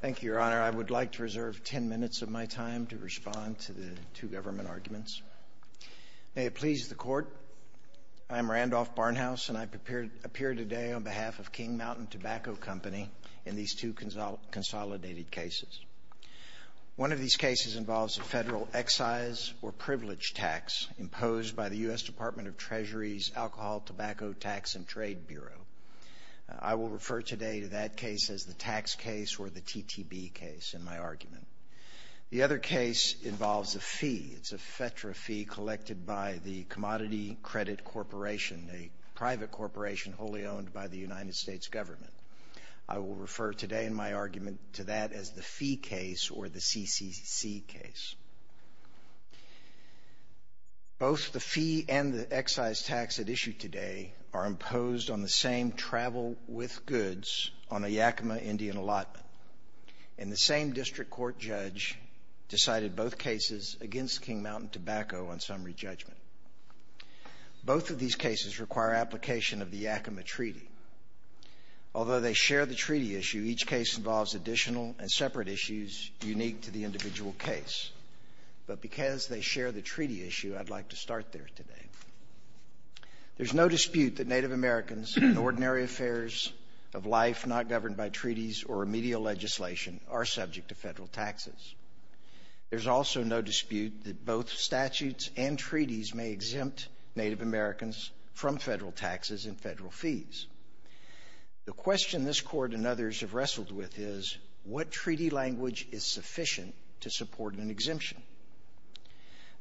Thank you, Your Honor. I would like to reserve ten minutes of my time to respond to the two government arguments. May it please the Court, I am Randolph Barnhouse and I appear today on behalf of King Mountain Tobacco Company in these two consolidated cases. One of these cases involves a federal excise or privilege tax imposed by the U.S. Department of Treasury's Alcohol, Tobacco, Tax, and Trade Bureau. I will refer today to that case as the tax case or the TTB case in my argument. The other case involves a fee. It's a FEDRA fee collected by the Commodity Credit Corporation, a private corporation wholly owned by the United States government. I will refer today in my argument to that as the fee case or the CCC case. Both the fee and the excise tax at issue today are imposed on the same travel with goods on a Yakima Indian allotment, and the same district court judge decided both cases against King Mountain Tobacco on summary judgment. Both of these cases require application of the Yakima Treaty. Although they share the treaty issue, each case involves additional and separate issues unique to the individual case, but because they share the treaty issue, I'd like to start there today. There's no dispute that Native Americans and ordinary affairs of life not governed by treaties or remedial legislation are subject to federal taxes. There's also no dispute that both statutes and treaties may exempt Native Americans from federal taxes and federal fees. The question this court and others have wrestled with is, what treaty language is sufficient to support an exemption?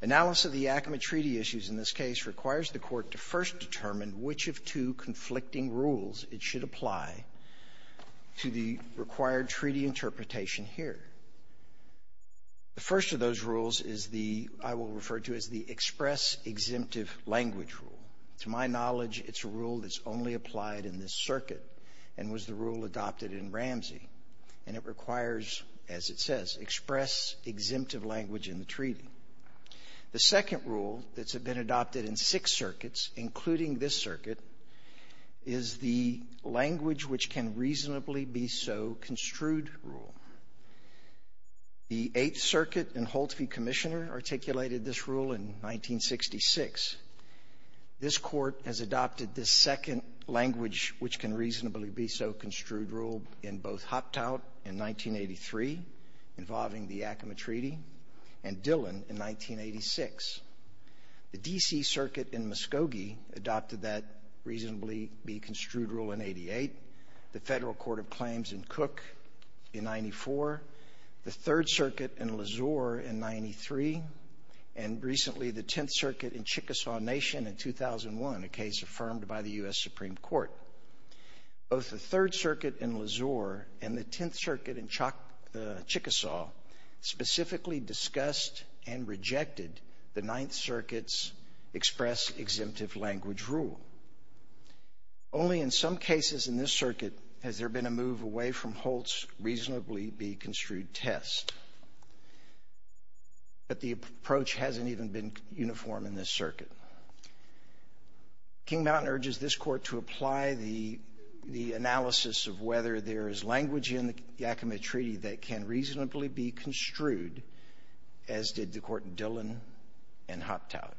Analysis of the Yakima Treaty issues in this case requires the Court to first determine which of two conflicting rules it should apply to the required treaty interpretation here. The first of those rules is the — I will refer to as the express-exemptive language rule. To my knowledge, it's a rule that's only applied in this circuit and was the rule adopted in Ramsey, and it requires, as it says, express-exemptive language in the treaty. The second rule that's been adopted in six circuits, including this circuit, is the language-which-can-reasonably-be-so-construed rule. The Eighth Circuit and Holtzby Commissioner articulated this rule in 1966. This Court has adopted this second language-which-can-reasonably-be-so-construed rule in both Hoptowt in 1983, involving the Yakima Treaty, and Dillon in 1986. The D.C. Circuit in Muskogee adopted that reasonably-be-construed rule in 88, the Federal Court of Claims in Cook in 94, the Third Circuit in Lazor in 93, and recently the Tenth Circuit in Chickasaw Nation in 2001, a case affirmed by the U.S. Supreme Court. Both the Third Circuit in Lazor and the Tenth Circuit in Chickasaw specifically discussed and rejected the Ninth Circuit's express-exemptive-language rule. Only in some cases in this circuit has there been a move away from Holtz reasonably-be-construed test, but the approach hasn't even been uniform in this to apply the analysis of whether there is language in the Yakima Treaty that can reasonably-be-construed, as did the Court in Dillon and Hoptowt.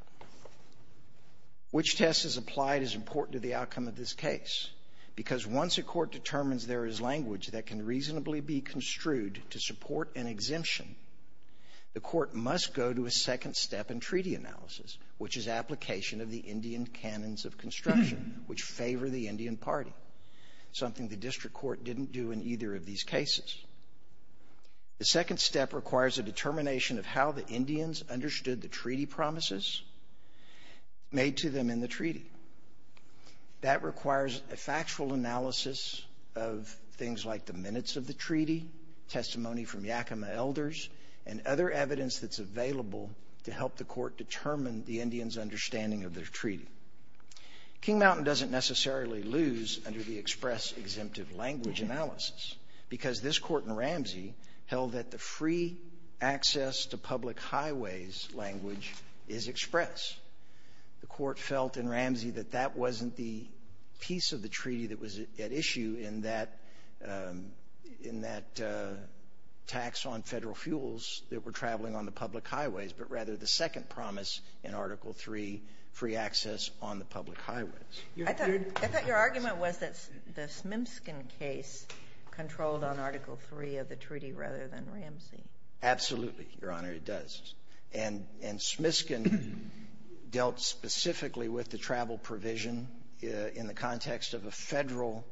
Which test is applied is important to the outcome of this case, because once a court determines there is language that can reasonably-be-construed to support an exemption, the court must go to a second step in treaty analysis, which is application of the Indian Canons of Construction, which favor the Indian Party, something the District Court didn't do in either of these cases. The second step requires a determination of how the Indians understood the treaty promises made to them in the treaty. That requires a factual analysis of things like the minutes of the treaty, testimony from Yakima elders, and other evidence that's available to help the treaty. King Mountain doesn't necessarily lose under the express-exemptive language analysis, because this court in Ramsey held that the free access to public highways language is express. The court felt in Ramsey that that wasn't the piece of the treaty that was at issue in that tax on federal fuels that were traveling on the free access on the public highways. I thought your argument was that the Smimskin case controlled on Article III of the treaty rather than Ramsey. Absolutely, Your Honor, it does. And Smiskin dealt specifically with the travel provision in the context of a federal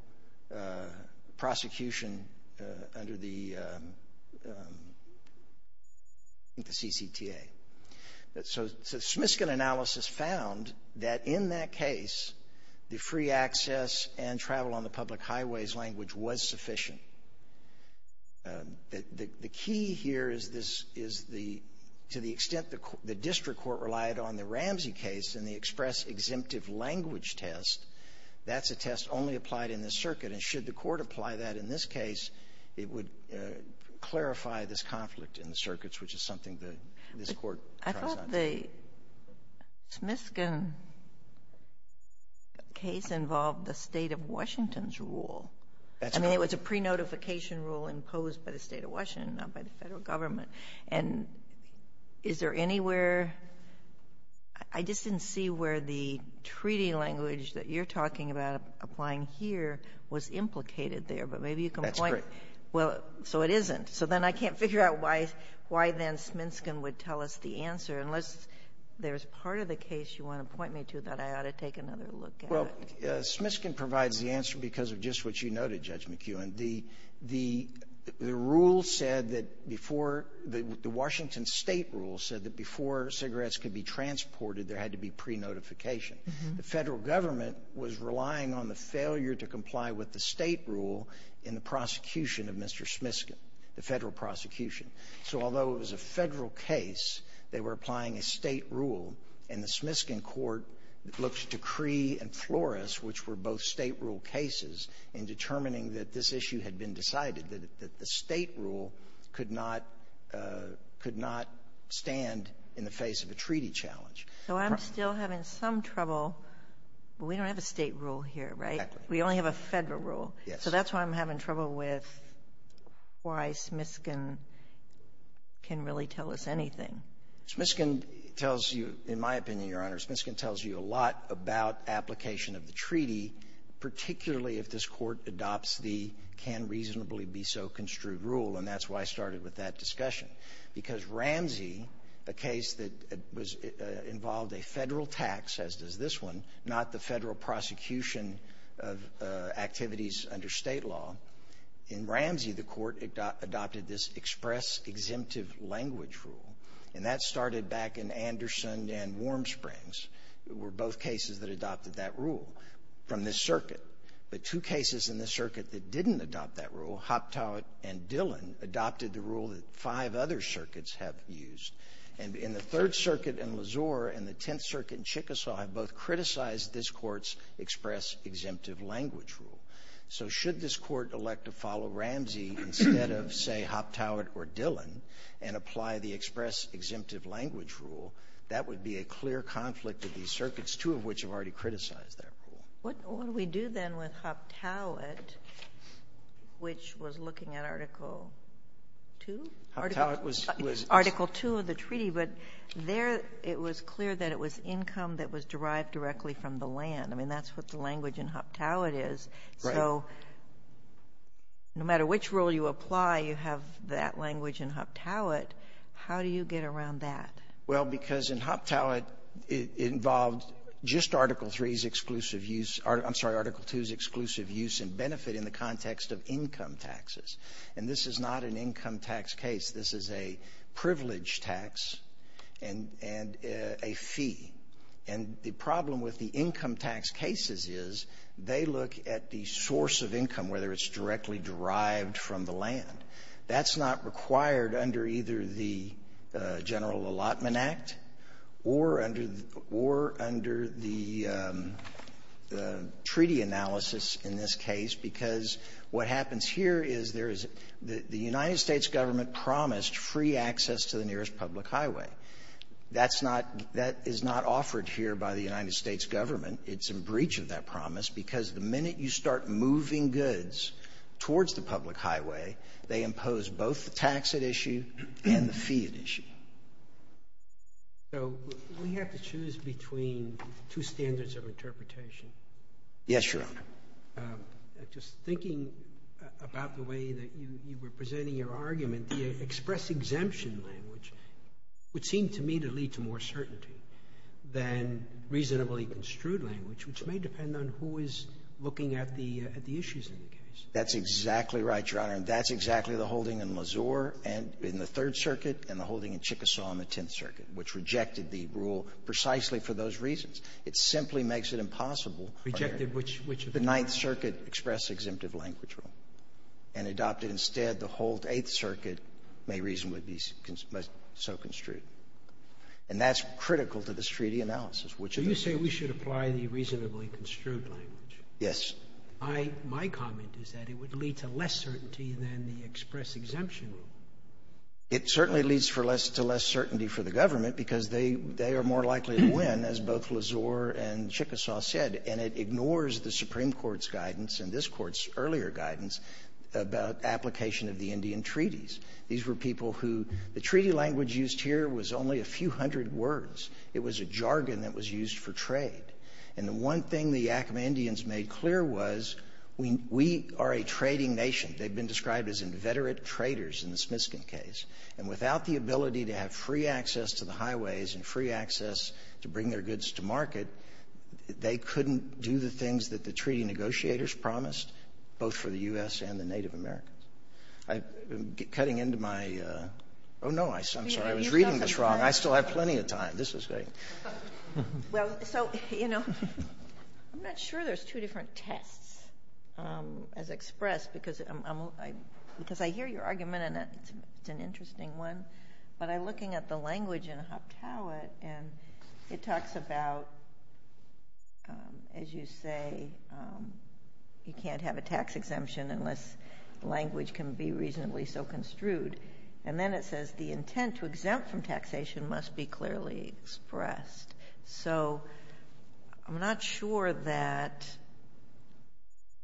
prosecution under the CCTA. So Smiskin analysis found that in that case, the free access and travel on the public highways language was sufficient. The key here is this is the to the extent the District Court relied on the Ramsey case and the express-exemptive language test, that's a test only applied in this circuit. And should the court apply that in this case, it would clarify this conflict in the circuits, which is something that this court tries not to. But the Smiskin case involved the State of Washington's rule. That's correct. I mean, it was a pre-notification rule imposed by the State of Washington, not by the Federal Government. And is there anywhere — I just didn't see where the treaty language that you're talking about applying here was implicated there. But maybe you can point — That's correct. Well, so it isn't. So then I can't figure out why then Sminskin would tell us the truth. There's part of the case you want to point me to that I ought to take another look at. Well, Smiskin provides the answer because of just what you noted, Judge McEwen. The — the rule said that before — the Washington State rule said that before cigarettes could be transported, there had to be pre-notification. The Federal Government was relying on the failure to comply with the State rule in the prosecution of Mr. Smiskin, the Federal prosecution. So although it was a Federal case, they were applying a State rule. And the Smiskin court looked to Cree and Flores, which were both State rule cases, in determining that this issue had been decided, that the State rule could not — could not stand in the face of a treaty challenge. So I'm still having some trouble. We don't have a State rule here, right? We only have a Federal rule. Yes. So that's why I'm having trouble with why Smiskin can really tell us anything. Smiskin tells you, in my opinion, Your Honor, Smiskin tells you a lot about application of the treaty, particularly if this Court adopts the can-reasonably-be-so-construed rule. And that's why I started with that discussion, because Ramsey, a case that was — involved a Federal tax, as does this one, not the Federal prosecution of activities under State law. In Ramsey, the Court adopted this express-exemptive-language rule. And that started back in Anderson and Warm Springs. It were both cases that adopted that rule from this circuit. But two cases in this circuit that didn't adopt that rule, Hoptowit and Dillon, adopted the rule that five other circuits have used. And in the Third Circuit in Lezor and the Tenth Circuit in Chickasaw have both criticized this Court's express-exemptive-language rule. So should this Court elect to follow Ramsey instead of, say, Hoptowit or Dillon and apply the express-exemptive-language rule, that would be a clear conflict of these circuits, two of which have already criticized that rule. What do we do then with Hoptowit, which was looking at Article II? Hoptowit was — Article II of the treaty. But there it was clear that it was income that was derived directly from the land. I mean, that's what the language in Hoptowit is. Right. So no matter which rule you apply, you have that language in Hoptowit. How do you get around that? Well, because in Hoptowit, it involved just Article III's exclusive use — I'm sorry, Article II's exclusive use and benefit in the context of income taxes. And this is not an income tax case. This is a privilege tax and a fee. And the problem with the income tax cases is they look at the source of income, whether it's directly derived from the land. That's not required under either the General Allotment Act or under the — or under the treaty analysis in this case, because what happens here is there is — the United States government promised free access to the nearest public highway. That's not — that is not offered here by the United States government. It's a breach of that promise, because the minute you start moving goods towards the public highway, they impose both the tax at issue and the fee at issue. So we have to choose between two standards of interpretation. Yes, Your Honor. Just thinking about the way that you were presenting your argument, the express exemption language would seem to me to lead to more certainty than reasonably construed language, which may depend on who is looking at the issues in the case. That's exactly right, Your Honor. And that's exactly the holding in Mazur in the Third Circuit and the holding in Chickasaw in the Tenth Circuit, which rejected the rule precisely for those reasons. It simply makes it impossible — Rejected which of the — The Ninth Circuit expressed exemptive language rule and adopted instead the whole Eighth Circuit may reasonably be so construed. And that's critical to this treaty analysis, which — So you say we should apply the reasonably construed language? Yes. My comment is that it would lead to less certainty than the express exemption rule. It certainly leads to less certainty for the government, because they are more likely to win, as both Mazur and Chickasaw said. And it ignores the Supreme Court's guidance and this Court's earlier guidance about application of the Indian treaties. These were people who — The treaty language used here was only a few hundred words. It was a jargon that was used for trade. And the one thing the Yakama Indians made clear was, we are a trading nation. They've been described as inveterate traders in the Smiskin case. And without the ability to have free access to the highways and free access to bring their goods to market, they couldn't do the things that the treaty negotiators promised, both for the U.S. and the Native Americans. I'm cutting into my — oh, no, I'm sorry. I was reading this wrong. I still have plenty of time. This is great. Well, so, you know, I'm not sure there's two different tests as expressed, because I'm — because I hear your argument, and it's an interesting one. But I'm looking at the language in Hoptowit, and it talks about, as you say, you can't have a tax exemption unless the language can be reasonably so construed. And then it says the intent to exempt from taxation must be clearly expressed. So I'm not sure that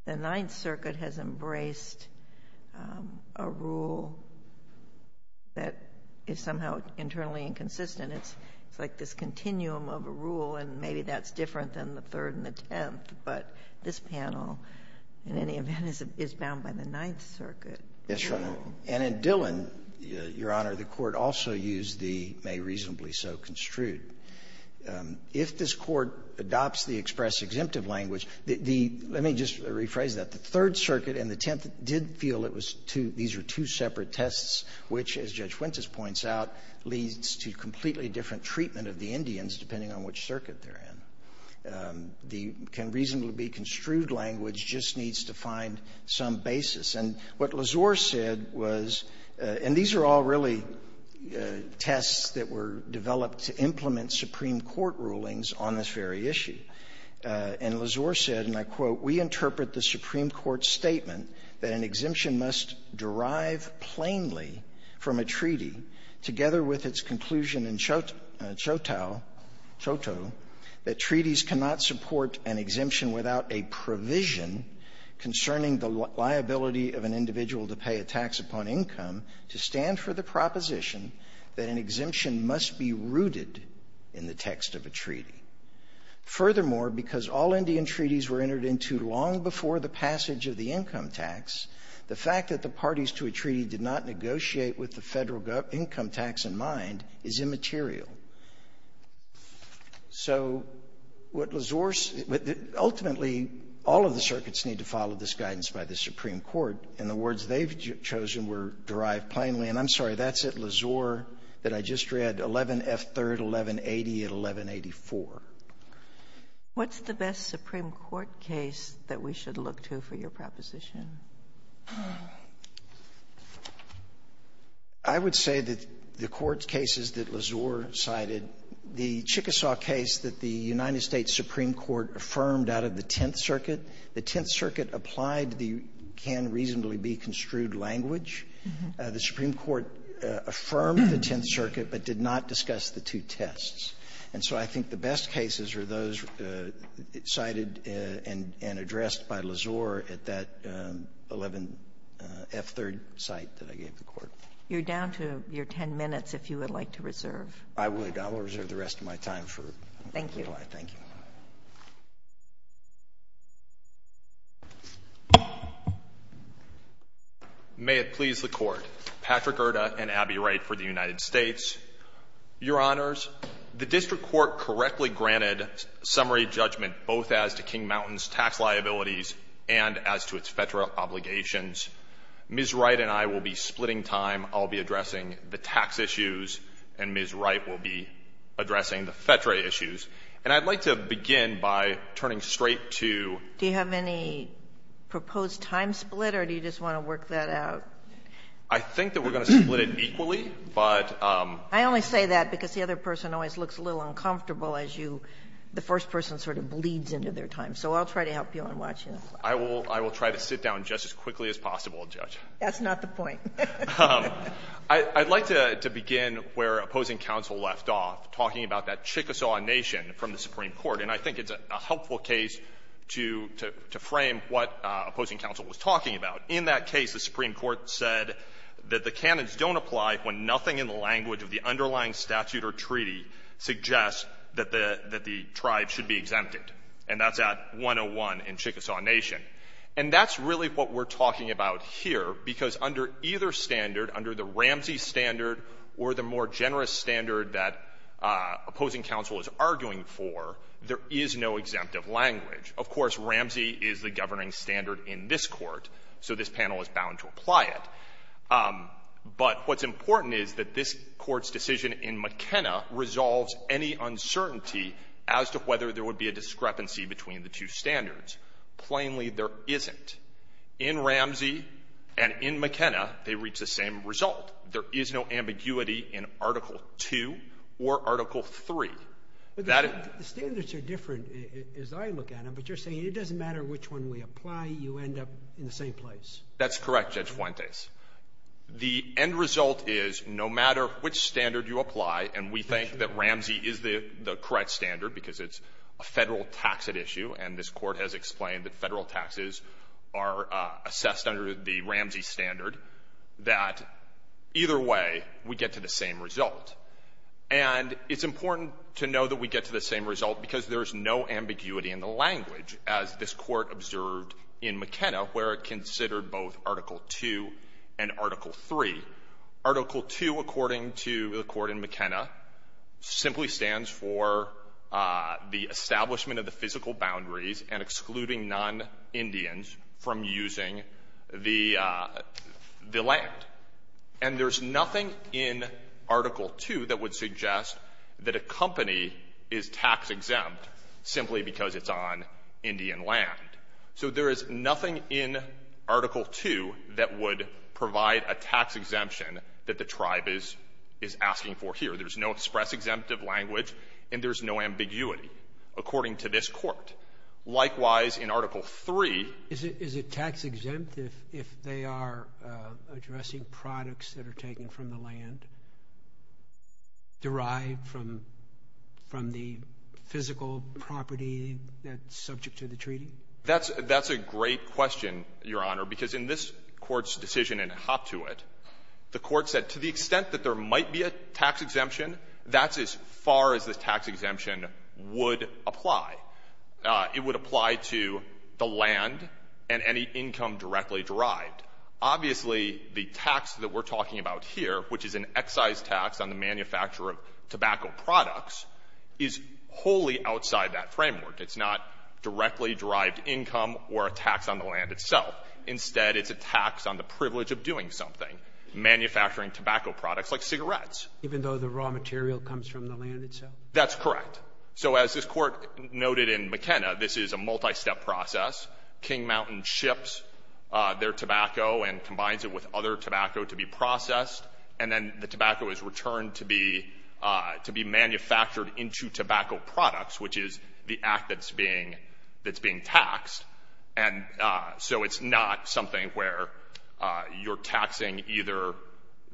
the Ninth Circuit has embraced a rule that is somehow internally inconsistent. It's like this continuum of a rule, and maybe that's different than the Third and the Tenth. But this panel, in any event, is bound by the Ninth Circuit. Yes, Your Honor. And in Dillon, Your Honor, the Court also used the may reasonably so construed. If this Court adopts the express-exemptive language, the — let me just rephrase that. The Third Circuit and the Tenth did feel it was two — these were two separate tests, which, as Judge Wintas points out, leads to completely different treatment of the Indians, depending on which circuit they're in. The can reasonably be construed language just needs to find some basis. And what Lazor said was — and these are all really tests that were developed to implement Supreme Court rulings on this very issue. And Lazor said, and I quote, Furthermore, because all Indian treaties were entered into long before the United States was an independent state, that the exemption must derive plainly from a treaty, together with its conclusion in Choctaw, that treaties cannot support an exemption without a provision concerning the liability of an individual to pay a tax upon income, to stand for the proposition that an exemption must be rooted in the text of the treaty. Furthermore, because all Indian treaties were entered into long before the passage of the income tax, the fact that the parties to a treaty did not negotiate with the federal income tax in mind is immaterial. So what Lasore – ultimately, all of the circuits need to follow this guidance by the Supreme Court, and the words they've chosen were derived plainly – and I'm sorry, that's at Lasore – that I just read, 11F3rd, 1180, and 1184. Sotomayor, what's the best Supreme Court case that we should look to for your proposition? I would say that the Court's cases that Lasore cited, the Chickasaw case that the United States Supreme Court affirmed out of the Tenth Circuit, the Tenth Circuit applied the can-reasonably-be-construed language. The Supreme Court affirmed the Tenth Circuit but did not discuss the two tests. And so I think the best cases are those cited and addressed by Lasore at that 11F3rd site that I gave the Court. You're down to your 10 minutes, if you would like to reserve. I would. I will reserve the rest of my time for you. Thank you. May it please the Court. Patrick Irda and Abby Wright for the United States. Your Honors, the district court correctly granted summary judgment both as to King Mountain's tax liabilities and as to its FEDRA obligations. Ms. Wright and I will be splitting time. I'll be addressing the tax issues, and Ms. Wright will be addressing the FEDRA issues. And I'd like to begin by turning straight to you. Do you have any proposed time split, or do you just want to work that out? I think that we're going to split it equally, but the first person sort of bleeds into their time, so I'll try to help you on watching the clock. I will try to sit down just as quickly as possible, Judge. That's not the point. I'd like to begin where opposing counsel left off, talking about that Chickasaw Nation from the Supreme Court. And I think it's a helpful case to frame what opposing counsel was talking about. In that case, the Supreme Court said that the canons don't apply when nothing in the language of the underlying statute or treaty suggests that the tribe should be exempted, and that's at 101 in Chickasaw Nation. And that's really what we're talking about here, because under either standard, under the Ramsey standard or the more generous standard that opposing counsel is arguing for, there is no exemptive language. Of course, Ramsey is the governing standard in this Court, so this panel is bound to apply it. But what's important is that this Court's decision in McKenna resolves any uncertainty as to whether there would be a discrepancy between the two standards. Plainly, there isn't. In Ramsey and in McKenna, they reach the same result. There is no ambiguity in Article II or Article III. That is the end result is, no matter which standard you apply, and we think that Ramsey is the correct standard, because it's a Federal taxed issue, and this Court has explained that Federal taxes are assessed under the Ramsey standard, that the Either way, we get to the same result. And it's important to know that we get to the same result because there is no ambiguity in the language, as this Court observed in McKenna, where it considered both Article II and Article III. Article II, according to the Court in McKenna, simply stands for the establishment of the physical boundaries and excluding non-Indians from using the land. And there's nothing in Article II that would suggest that a company is tax-exempt simply because it's on Indian land. So there is nothing in Article II that would provide a tax exemption that the tribe is asking for here. There's no express-exemptive language, and there's no ambiguity, according to this Court. Likewise, in Article III ---- Is it tax-exempt if they are addressing products that are taken from the land, derived from the physical property that's subject to the treaty? That's a great question, Your Honor, because in this Court's decision in Hop-To-It, the Court said to the extent that there might be a tax exemption, that's as far as it would apply to the land and any income directly derived. Obviously, the tax that we're talking about here, which is an excise tax on the manufacturer of tobacco products, is wholly outside that framework. It's not directly derived income or a tax on the land itself. Instead, it's a tax on the privilege of doing something, manufacturing tobacco products like cigarettes. Even though the raw material comes from the land itself? That's correct. So as this Court noted in McKenna, this is a multi-step process. King Mountain ships their tobacco and combines it with other tobacco to be processed, and then the tobacco is returned to be manufactured into tobacco products, which is the act that's being taxed. And so it's not something where you're taxing either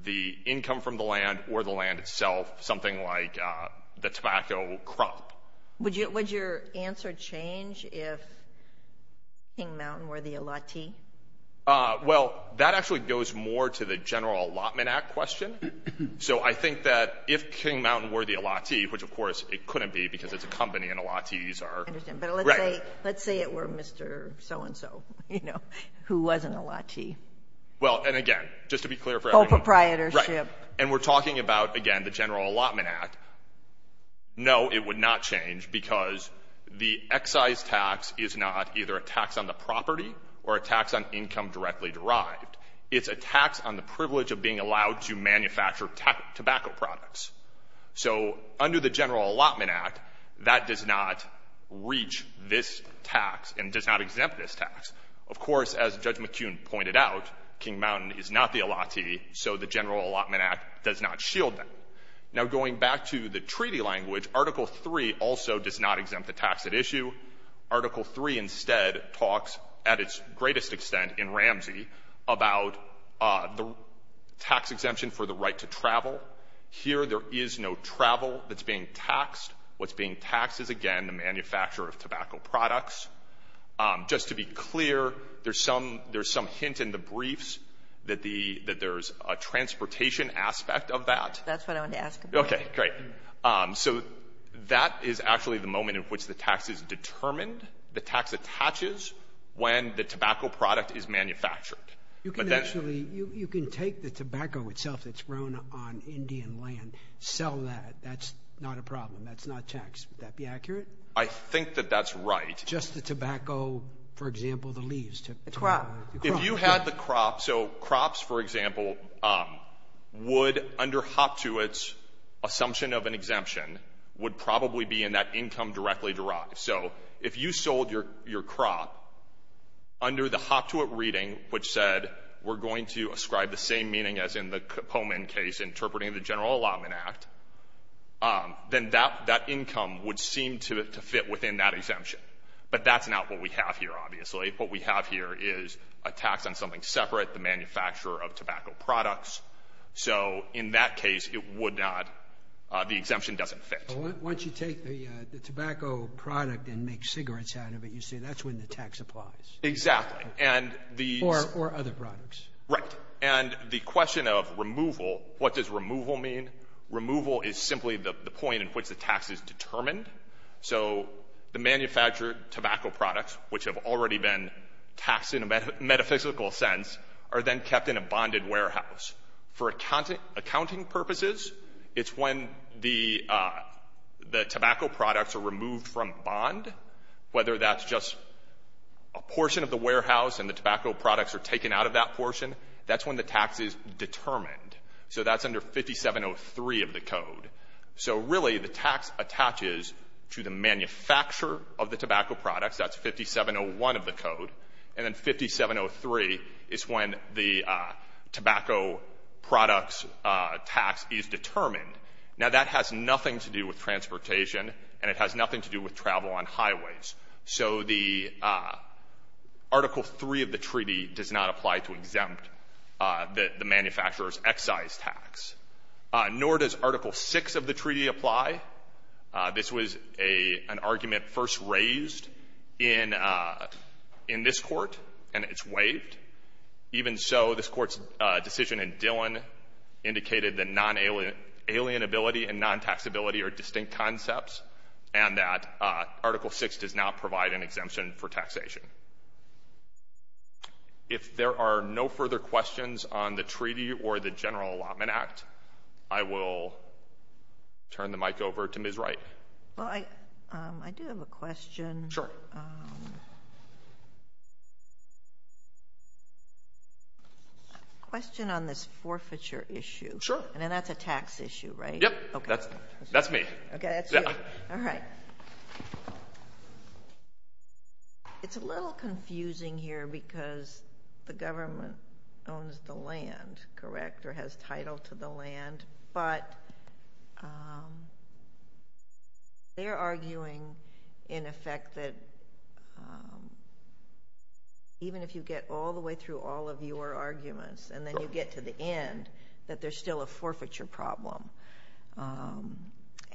the income from the land or the land itself, something like the tobacco crop. Would your answer change if King Mountain were the allottee? Well, that actually goes more to the General Allotment Act question. So I think that if King Mountain were the allottee, which of course it couldn't be because it's a company and allottees are... I understand, but let's say it were Mr. So-and-so, you know, who was an allottee. Well, and again, just to be clear for everyone... Co-proprietorship. Right. And we're talking about, again, the General Allotment Act. No, it would not change because the excise tax is not either a tax on the property or a tax on income directly derived. It's a tax on the privilege of being allowed to manufacture tobacco products. So under the General Allotment Act, that does not reach this tax and does not exempt this tax. Of course, as Judge McKeon pointed out, King Mountain is not the allottee, so the General Allotment Act does not shield them. Now, going back to the treaty language, Article III also does not exempt the tax at issue. Article III instead talks, at its greatest extent in Ramsey, about the tax exemption for the right to travel. Here there is no travel that's being taxed. What's being taxed is, again, the manufacture of tobacco products. Just to be clear, there's some hint in the briefs that there's a transportation aspect of that. That's what I wanted to ask about. Okay. Great. So that is actually the moment in which the tax is determined, the tax attaches when the tobacco product is manufactured. You can actually — you can take the tobacco itself that's grown on Indian land, sell that. That's not a problem. That's not taxed. Would that be accurate? I think that that's right. Just the tobacco, for example, the leaves. The crop. If you had the crop — so crops, for example, would, under Hoptewit's assumption of an exemption, would probably be in that income directly derived. So if you sold your crop under the Hoptewit reading, which said we're going to ascribe the same meaning as in the Pomen case interpreting the General Allotment Act, then that income would seem to fit within that exemption. But that's not what we have here, obviously. What we have here is a tax on something separate, the manufacturer of tobacco products. So in that case, it would not — the exemption doesn't fit. Once you take the tobacco product and make cigarettes out of it, you say that's when the tax applies. Exactly. And the — Or other products. Right. And the question of removal — what does removal mean? Removal is simply the point at which the tax is determined. So the manufactured tobacco products, which have already been taxed in a metaphysical sense, are then kept in a bonded warehouse. For accounting purposes, it's when the tobacco products are removed from bond, whether that's just a portion of the warehouse and the tobacco products are taken out of that portion, that's when the tax is determined. So that's under 5703 of the code. So really, the tax attaches to the manufacturer of the tobacco products. That's 5701 of the code. And then 5703 is when the tobacco products tax is determined. Now, that has nothing to do with transportation, and it has nothing to do with travel on highways. So the Article 3 of the treaty does not apply to exempt the manufacturer's excise tax, nor does Article 6 of the treaty apply. This was an argument first raised in this court, and it's waived. Even so, this court's decision in Dillon indicated that non-alienability and non-taxability are distinct concepts and that Article 6 does not provide an exemption for taxation. If there are no further questions on the treaty or the General Allotment Act, I will turn the mic over to Ms. Wright. Well, I do have a question. Sure. A question on this forfeiture issue. Sure. And that's a tax issue, right? Yep. Okay. That's me. Okay, that's you. Yeah. All right. It's a little confusing here because the government owns the land, correct, or has title to the land, but they're arguing, in effect, that even if you get all the way through all of your arguments and then you get to the end, that there's still a forfeiture problem.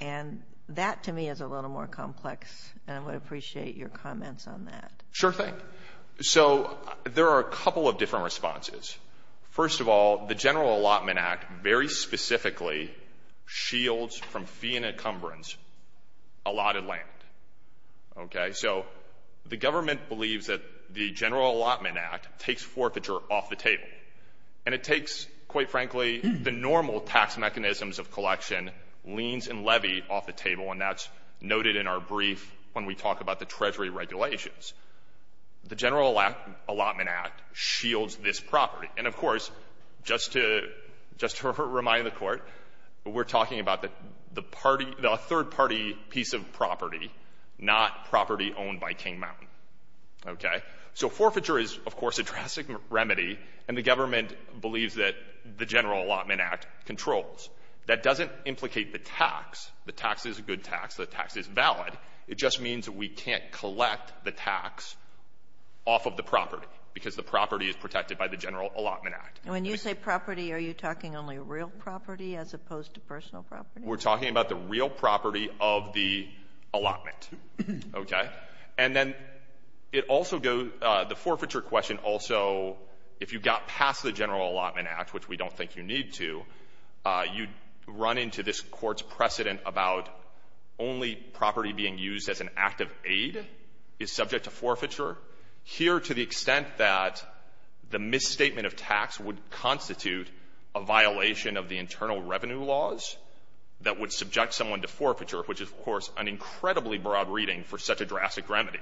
And that, to me, is a little more complex, and I would appreciate your comments on that. Sure thing. So, there are a couple of different responses. First of all, the General Allotment Act very specifically shields from fee and encumbrance allotted land. Okay? So, the government believes that the General Allotment Act takes forfeiture off the table. And it takes, quite frankly, the normal tax mechanisms of collection, liens and levy, off the table, and that's noted in our brief when we talk about the Treasury regulations. The General Allotment Act shields this property. And of course, just to remind the Court, we're talking about a third-party piece of property, not property owned by King Mountain. Okay? So, forfeiture is, of course, a drastic remedy, and the government believes that the General Allotment Act controls. That doesn't implicate the tax. The tax is a good tax. The tax is valid. It just means that we can't collect the tax off of the property, because the property is protected by the General Allotment Act. When you say property, are you talking only real property as opposed to personal property? We're talking about the real property of the allotment. Okay? And then it also goes the forfeiture question also, if you got past the General Allotment Act, which we don't think you need to, you'd run into this Court's precedent about only property being used as an act of aid is subject to forfeiture. Here, to the extent that the misstatement of tax would constitute a violation of the internal revenue laws that would subject someone to forfeiture, which is, of course, an incredibly broad reading for such a drastic remedy,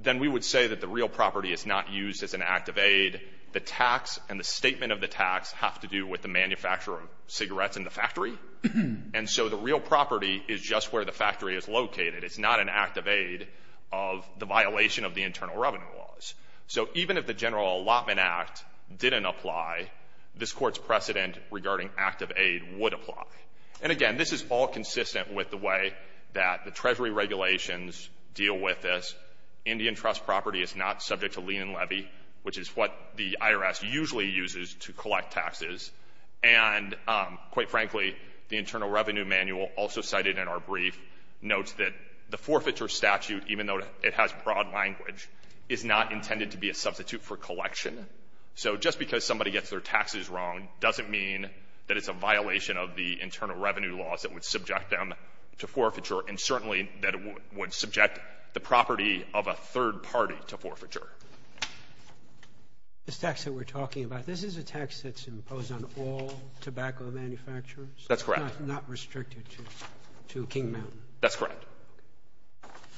then we would say that the real property is not used as an act of aid. The tax and the statement of the tax have to do with the manufacturer of cigarettes in the factory. And so the real property is just where the factory is located. It's not an act of aid of the violation of the internal revenue laws. So even if the General Allotment Act didn't apply, this Court's precedent regarding act of aid would apply. And again, this is all consistent with the way that the Treasury regulations deal with this. Indian trust property is not subject to lien and levy, which is what the IRS usually uses to collect taxes. And quite frankly, the Internal Revenue Manual also cited in our brief notes that the forfeiture statute, even though it has broad language, is not intended to be a substitute for collection. So just because somebody gets their taxes wrong doesn't mean that it's a violation of the internal revenue laws that would subject them to forfeiture, and certainly that it would subject the property of a third party to forfeiture. This tax that we're talking about, this is a tax that's imposed on all tobacco manufacturers? That's correct. Not restricted to King Mountain? That's correct.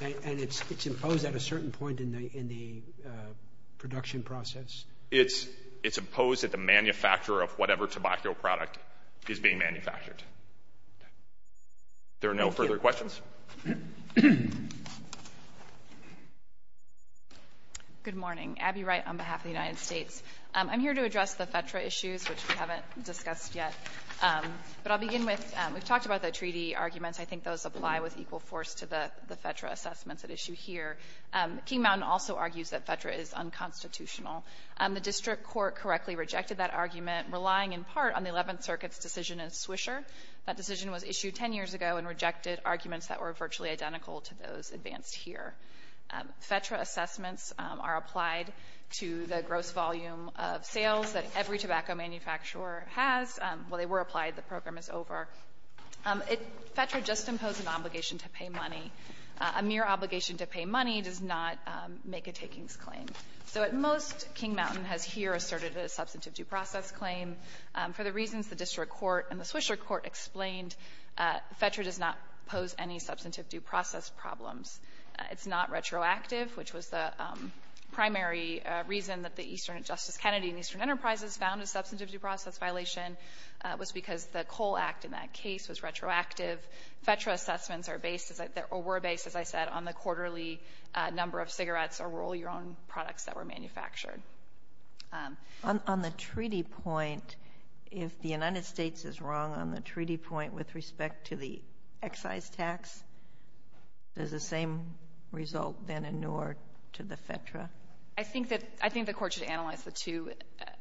And it's imposed at a certain point in the production process? It's imposed at the manufacturer of whatever tobacco product is being manufactured. Okay. There are no further questions? Good morning. Abby Wright on behalf of the United States. I'm here to address the FEDRA issues, which we haven't discussed yet. But I'll begin with we've talked about the treaty arguments. I think those apply with equal force to the FEDRA assessments at issue here. King Mountain also argues that FEDRA is unconstitutional. The district court correctly rejected that argument, relying in part on the Eleventh Circuit's decision in Swisher. That decision was issued 10 years ago and rejected arguments that were virtually identical to those advanced here. FEDRA assessments are applied to the gross volume of sales that every tobacco manufacturer has. While they were applied, the program is over. FEDRA just imposed an obligation to pay money. A mere obligation to pay money does not make a takings claim. So at most, King Mountain has here asserted a substantive due process claim. For the reasons the district court and the Swisher court explained, FEDRA does not pose any substantive due process problems. It's not retroactive, which was the primary reason that the Eastern Justice Kennedy and Eastern Enterprises found a substantive due process violation was because the Cole Act in that case was retroactive. FEDRA assessments are based, or were based, as I said, on the quarterly number of cigarettes or roll-your-own products that were manufactured. On the treaty point, if the United States is wrong on the treaty point with respect to the excise tax, does the same result then inure to the FEDRA? I think that the court should analyze the two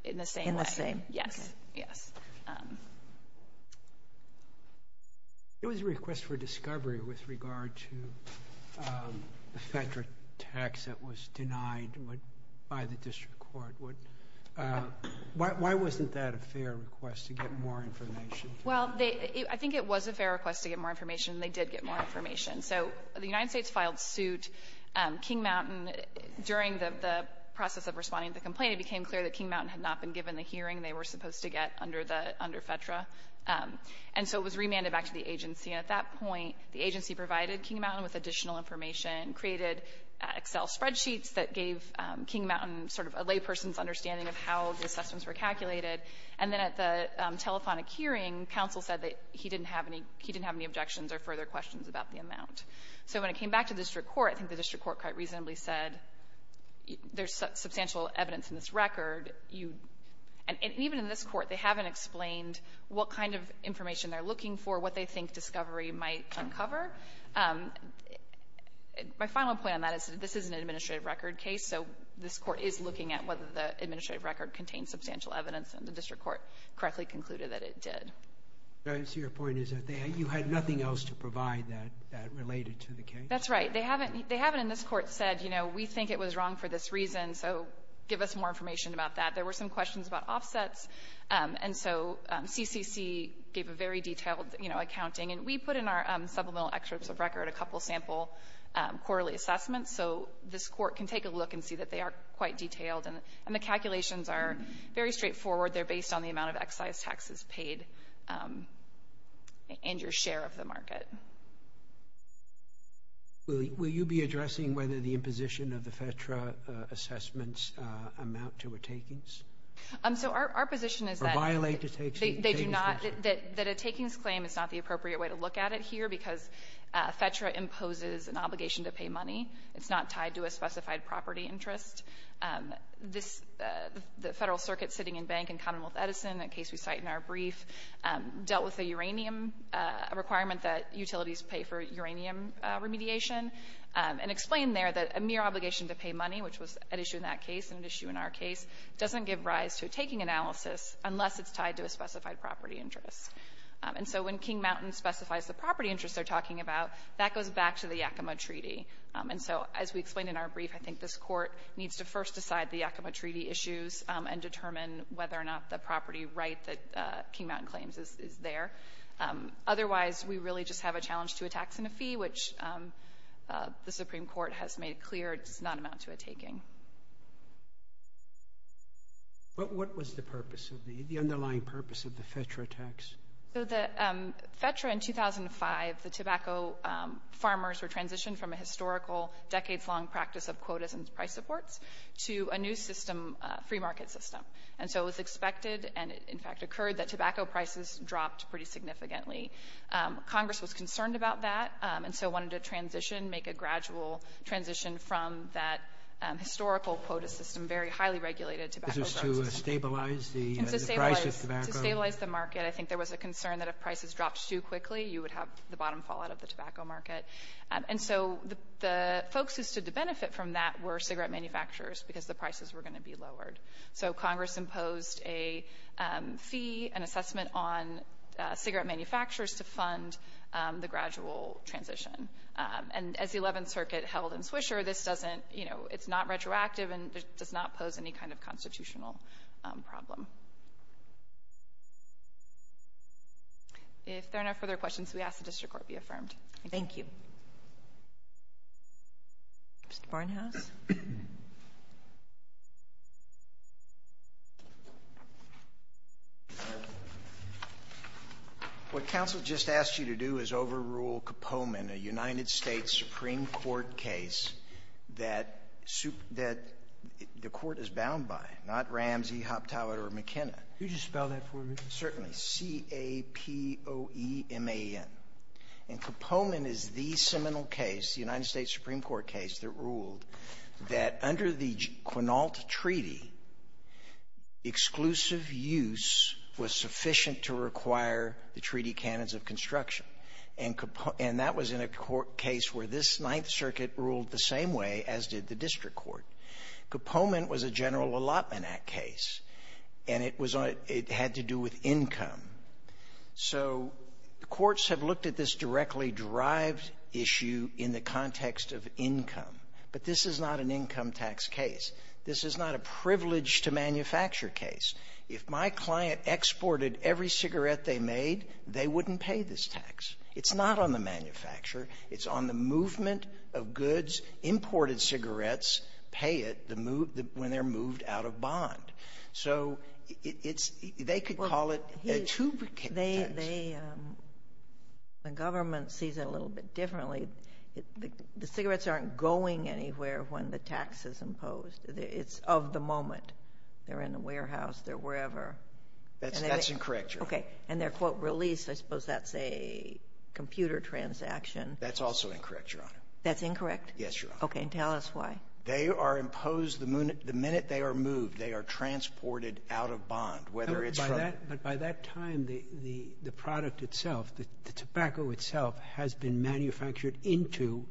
in the same way. In the same way. Yes. Okay. Yes. I think it was a fair request to get more information, and they did get more information. So the United States filed suit. King Mountain, during the process of responding to the complaint, it became clear that King Mountain had not been given the hearing they were supposed to get under the under FEDRA. And so it was remanded back to the agency. And at that point, the agency provided King Mountain with additional information, created Excel spreadsheets that gave King Mountain sort of a layperson's understanding of how the assessments were calculated. And then at the telephonic hearing, counsel said that he didn't have any objections or further questions about the amount. So when it came back to district court, I think the district court quite reasonably said there's substantial evidence in this record. And even in this court, they haven't explained what kind of information they're looking for, what they think discovery might uncover. My final point on that is that this is an administrative record case, so this court is looking at whether the administrative record contains substantial evidence, and the district court correctly concluded that it did. I see your point is that you had nothing else to provide that related to the case? That's right. They haven't in this court said, you know, we think it was wrong for this reason, so give us more information about that. There were some questions about offsets. And so CCC gave a very detailed, you know, accounting. And we put in our supplemental excerpts of record a couple of sample quarterly assessments, so this court can take a look and see that they are quite detailed. And the calculations are very straightforward. They're based on the amount of excise taxes paid and your share of the market. Will you be addressing whether the imposition of the FEDTRA assessments amount to a takings? So our position is that they do not — Or violate the takings procedure. The claim is not the appropriate way to look at it here, because FEDTRA imposes an obligation to pay money. It's not tied to a specified property interest. This — the Federal Circuit sitting in bank in Commonwealth Edison, a case we cite in our brief, dealt with a uranium requirement that utilities pay for uranium remediation, and explained there that a mere obligation to pay money, which was an issue in that case and an issue in our case, doesn't give rise to a taking analysis unless it's tied to a specified property interest. And so when King Mountain specifies the property interest they're talking about, that goes back to the Yakima Treaty. And so, as we explained in our brief, I think this court needs to first decide the Yakima Treaty issues and determine whether or not the property right that King Mountain claims is there. Otherwise, we really just have a challenge to a tax and a fee, which the Supreme Court has made clear does not amount to a taking. But what was the purpose of the — the underlying purpose of the FEDTRA tax? So the FEDTRA in 2005, the tobacco farmers were transitioned from a historical decades-long practice of quotas and price supports to a new system, free market system. And so it was expected, and it in fact occurred, that tobacco prices dropped pretty significantly. Congress was concerned about that, and so wanted to transition, make a gradual transition from that historical quota system, very highly regulated tobacco system. Is this to stabilize the price of tobacco? To stabilize the market. I think there was a concern that if prices dropped too quickly, you would have the bottom fallout of the tobacco market. And so the folks who stood to benefit from that were cigarette manufacturers because the prices were going to be lowered. So Congress imposed a fee, an assessment on cigarette manufacturers to fund the gradual transition. And as the Eleventh Circuit held in Swisher, this doesn't — you know, it's not retroactive and does not pose any kind of constitutional problem. If there are no further questions, we ask the district court be affirmed. Thank you. Mr. Barnhouse? What counsel just asked you to do is overrule Caponin, a United States Supreme Court case that the Court is bound by, not Ramsey, Hoptow, or McKenna. Could you spell that for me? Certainly. C-a-p-o-e-m-a-n. And Caponin is the seminal case, the United States Supreme Court case, that ruled that under the Quinault Treaty, exclusive use was sufficient to require the treaty canons of construction. And that was in a court case where this Ninth Circuit ruled the same way as did the district court. Caponin was a General Allotment Act case, and it was on — it had to do with income. So courts have looked at this directly-derived issue in the context of income. But this is not an income tax case. This is not a privilege-to-manufacture case. If my client exported every cigarette they made, they wouldn't pay this tax. It's not on the manufacturer. It's on the movement of goods. Imported cigarettes pay it when they're moved out of bond. So it's — they could call it a two-tax. They — the government sees it a little bit differently. The cigarettes aren't going anywhere when the tax is imposed. It's of the moment. They're in the warehouse. They're wherever. That's incorrect, Your Honor. Okay. And they're, quote, released. I suppose that's a computer transaction. That's also incorrect, Your Honor. That's incorrect? Yes, Your Honor. Okay. They are imposed — the minute they are moved, they are transported out of bond, whether it's from — But by that time, the product itself, the tobacco itself, has been manufactured into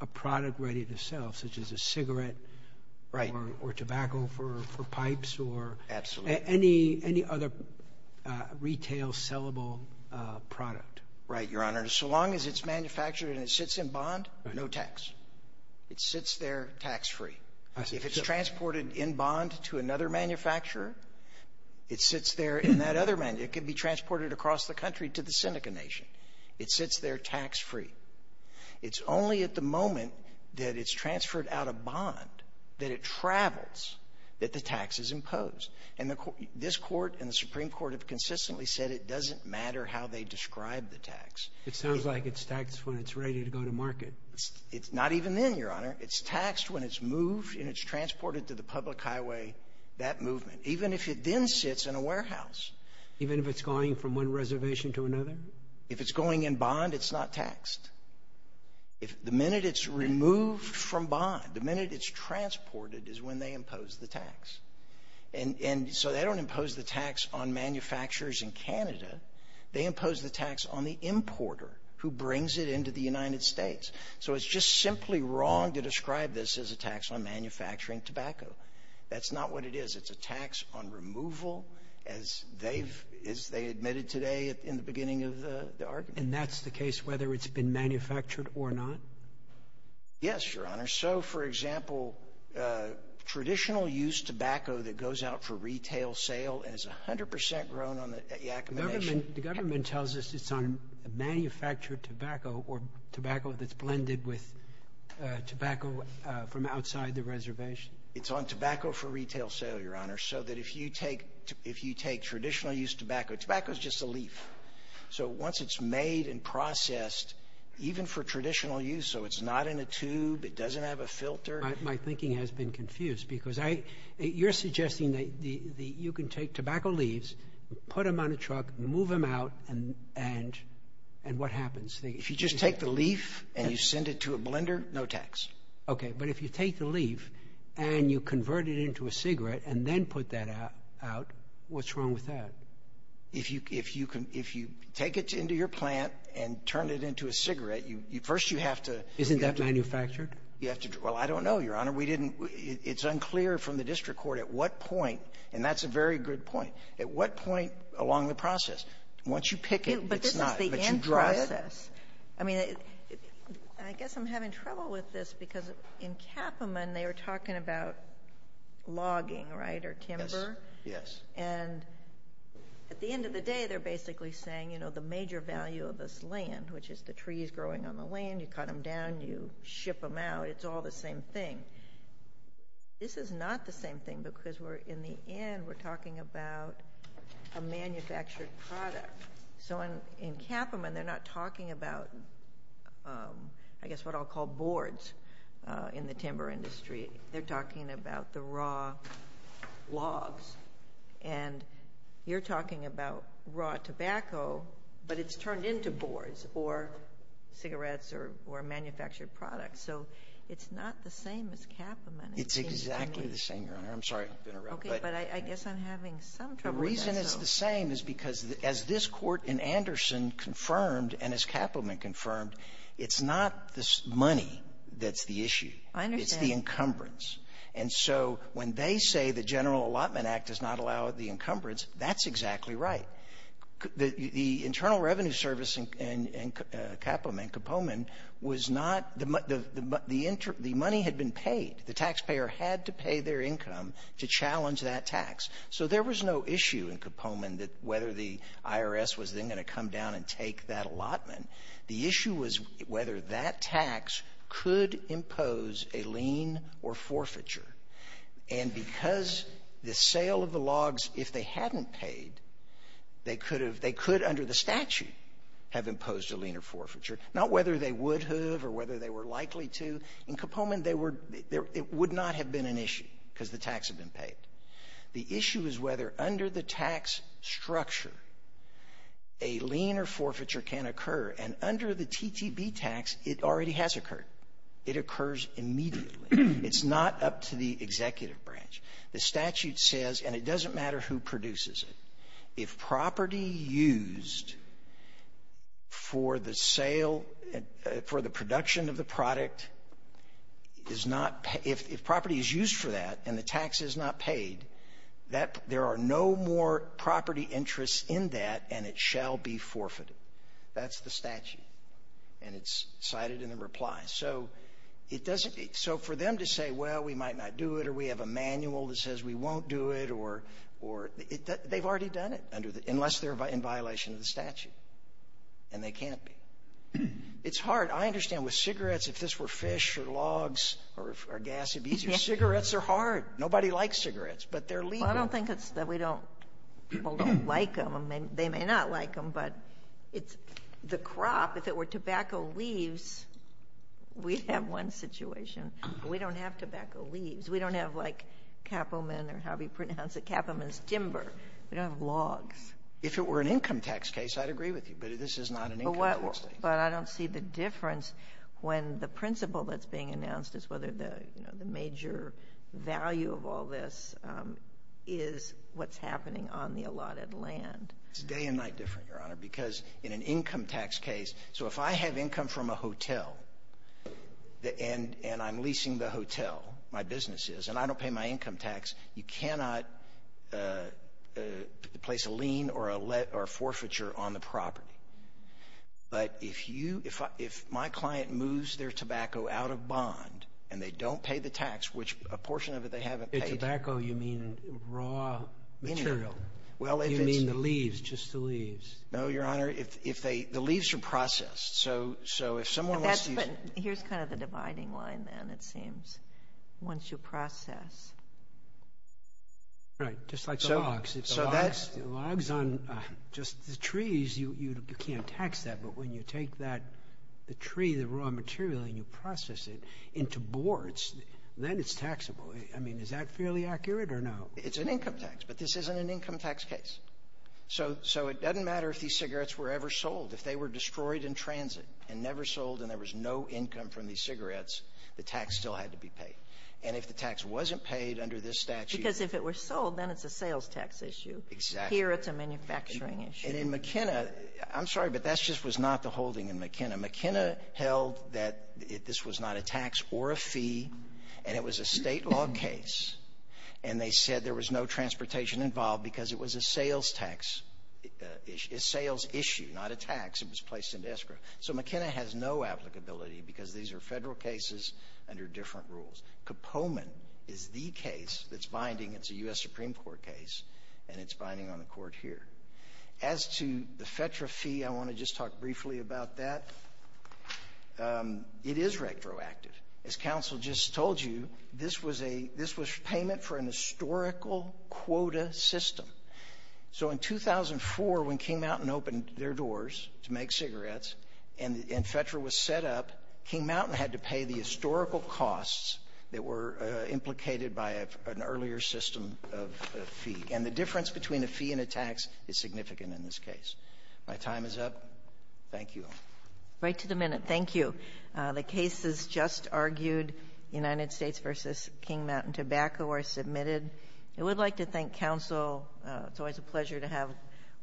a product ready to sell, such as a cigarette or tobacco for pipes or any other retail sellable product. Right, Your Honor. So long as it's manufactured and it sits in bond, no tax. It sits there tax-free. If it's transported in bond to another manufacturer, it sits there in that other — it could be transported across the country to the Seneca Nation. It sits there tax-free. It's only at the moment that it's transferred out of bond that it travels that the tax is imposed. And the — this Court and the Supreme Court have consistently said it doesn't matter how they describe the tax. It sounds like it's taxed when it's ready to go to market. It's not even then, Your Honor. It's taxed when it's moved and it's transported to the public highway, that movement, even if it then sits in a warehouse. Even if it's going from one reservation to another? If it's going in bond, it's not taxed. The minute it's removed from bond, the minute it's transported is when they impose the tax. And so they don't impose the tax on manufacturers in Canada. They impose the tax on the importer who brings it into the United States. So it's just simply wrong to describe this as a tax on manufacturing tobacco. That's not what it is. It's a tax on removal, as they've — as they admitted today in the beginning of the argument. And that's the case whether it's been manufactured or not? Yes, Your Honor. So, for example, traditional-use tobacco that goes out for retail sale is 100 percent grown on the Yakima Nation. The government tells us it's on manufactured tobacco or tobacco that's blended with tobacco from outside the reservation. It's on tobacco for retail sale, Your Honor, so that if you take — if you take traditional-use tobacco — tobacco is just a leaf. So once it's made and processed, even for traditional use, so it's not in a tube, it doesn't have a filter — My thinking has been confused because I — you're suggesting that you can take move them out and — and what happens? If you just take the leaf and you send it to a blender, no tax. Okay. But if you take the leaf and you convert it into a cigarette and then put that out, what's wrong with that? If you — if you can — if you take it into your plant and turn it into a cigarette, you — first you have to — Isn't that manufactured? You have to — well, I don't know, Your Honor. We didn't — it's unclear from the district court at what point — and that's a very good point. At what point along the process? Once you pick it, it's not — But this is the end process. But you dry it? I mean, I guess I'm having trouble with this because in Capamon, they were talking about logging, right, or timber? Yes. Yes. And at the end of the day, they're basically saying, you know, the major value of this land, which is the trees growing on the land, you cut them down, you ship them out, it's all the same thing. This is not the same thing because we're — in the end, we're talking about a manufactured product. So in Capamon, they're not talking about, I guess, what I'll call boards in the timber industry. They're talking about the raw logs. And you're talking about raw tobacco, but it's turned into boards or cigarettes or manufactured products. So it's not the same as Capamon, it seems to me. It's exactly the same, Your Honor. I'm sorry I've been around. Okay. But I guess I'm having some trouble with that, though. The reason it's the same is because as this Court in Anderson confirmed and as Capamon confirmed, it's not the money that's the issue. I understand. It's the encumbrance. And so when they say the General Allotment Act does not allow the encumbrance, that's exactly right. The Internal Revenue Service in Capamon was not — the money had been paid. The taxpayer had to pay their income to challenge that tax. So there was no issue in Capamon whether the IRS was then going to come down and take that allotment. The issue was whether that tax could impose a lien or forfeiture. And because the sale of the logs, if they hadn't paid, they could have — they could under the statute have imposed a lien or forfeiture. Not whether they would have or whether they were likely to. In Capamon, they were — it would not have been an issue because the tax had been paid. The issue is whether under the tax structure a lien or forfeiture can occur. And under the TTB tax, it already has occurred. It occurs immediately. It's not up to the executive branch. The statute says, and it doesn't matter who produces it, if property used for the sale — for the production of the product is not — if property is used for that and the tax is not paid, that — there are no more property interests in that, and it shall be forfeited. That's the statute. And it's cited in the reply. So it doesn't — so for them to say, well, we might not do it or we have a manual that says we won't do it or — or — they've already done it under the — unless they're in violation of the statute, and they can't be. It's hard. I understand with cigarettes, if this were fish or logs or gas, it would be easier. Cigarettes are hard. Nobody likes cigarettes, but they're legal. I don't think it's that we don't — people don't like them. They may not like them, but it's — the crop, if it were tobacco leaves, we'd have one situation. We don't have tobacco leaves. We don't have, like, Kaepernick or how we pronounce it, Kaepernick's timber. We don't have logs. If it were an income tax case, I'd agree with you. But this is not an income tax case. But I don't see the difference when the principle that's being announced is whether the, you know, the major value of all this is what's happening on the allotted land. It's day and night different, Your Honor, because in an income tax case — so if I have income from a hotel, and I'm leasing the hotel, my business is, and I don't pay my income tax, you cannot place a lien or a forfeiture on the property. But if you — if my client moves their tobacco out of bond, and they don't pay the tax, which a portion of it they haven't paid — By tobacco, you mean raw material. Well, if it's — You mean the leaves, just the leaves. No, Your Honor. If they — the leaves are processed. So if someone wants to use — That's — but here's kind of the dividing line, then, it seems, once you process. Right. Just like the logs. The logs on just the trees, you can't tax that. But when you take that — the tree, the raw material, and you process it into boards, then it's taxable. I mean, is that fairly accurate or no? It's an income tax, but this isn't an income tax case. So it doesn't matter if these cigarettes were ever sold. If they were destroyed in transit and never sold, and there was no income from these cigarettes, the tax still had to be paid. And if the tax wasn't paid under this statute — Because if it were sold, then it's a sales tax issue. Exactly. Here, it's a manufacturing issue. And in McKenna — I'm sorry, but that just was not the holding in McKenna. McKenna held that this was not a tax or a fee, and it was a state law case, and they said there was no transportation involved because it was a sales tax — a sales issue, not a tax. It was placed into escrow. So McKenna has no applicability because these are Federal cases under different rules. Kopoman is the case that's binding. It's a U.S. Supreme Court case, and it's binding on the Court here. As to the FEDRA fee, I want to just talk briefly about that. It is retroactive. As counsel just told you, this was a — this was payment for an historical quota system. So in 2004, when King Mountain opened their doors to make cigarettes and FEDRA was set up, King Mountain had to pay the historical costs that were implicated by an earlier system of fee. And the difference between a fee and a tax is significant in this case. My time is up. Thank you. Right to the minute. Thank you. The cases just argued, United States v. King Mountain Tobacco, are submitted. I would like to thank counsel. It's always a pleasure to have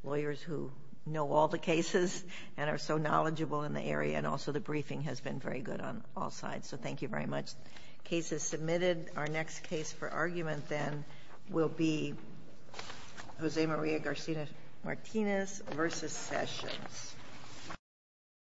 lawyers who know all the cases and are so knowledgeable in the area, and also the briefing has been very good on all sides. So thank you very much. Case is submitted. Our next case for argument, then, will be Jose Maria Garcia Martinez v. Sessions.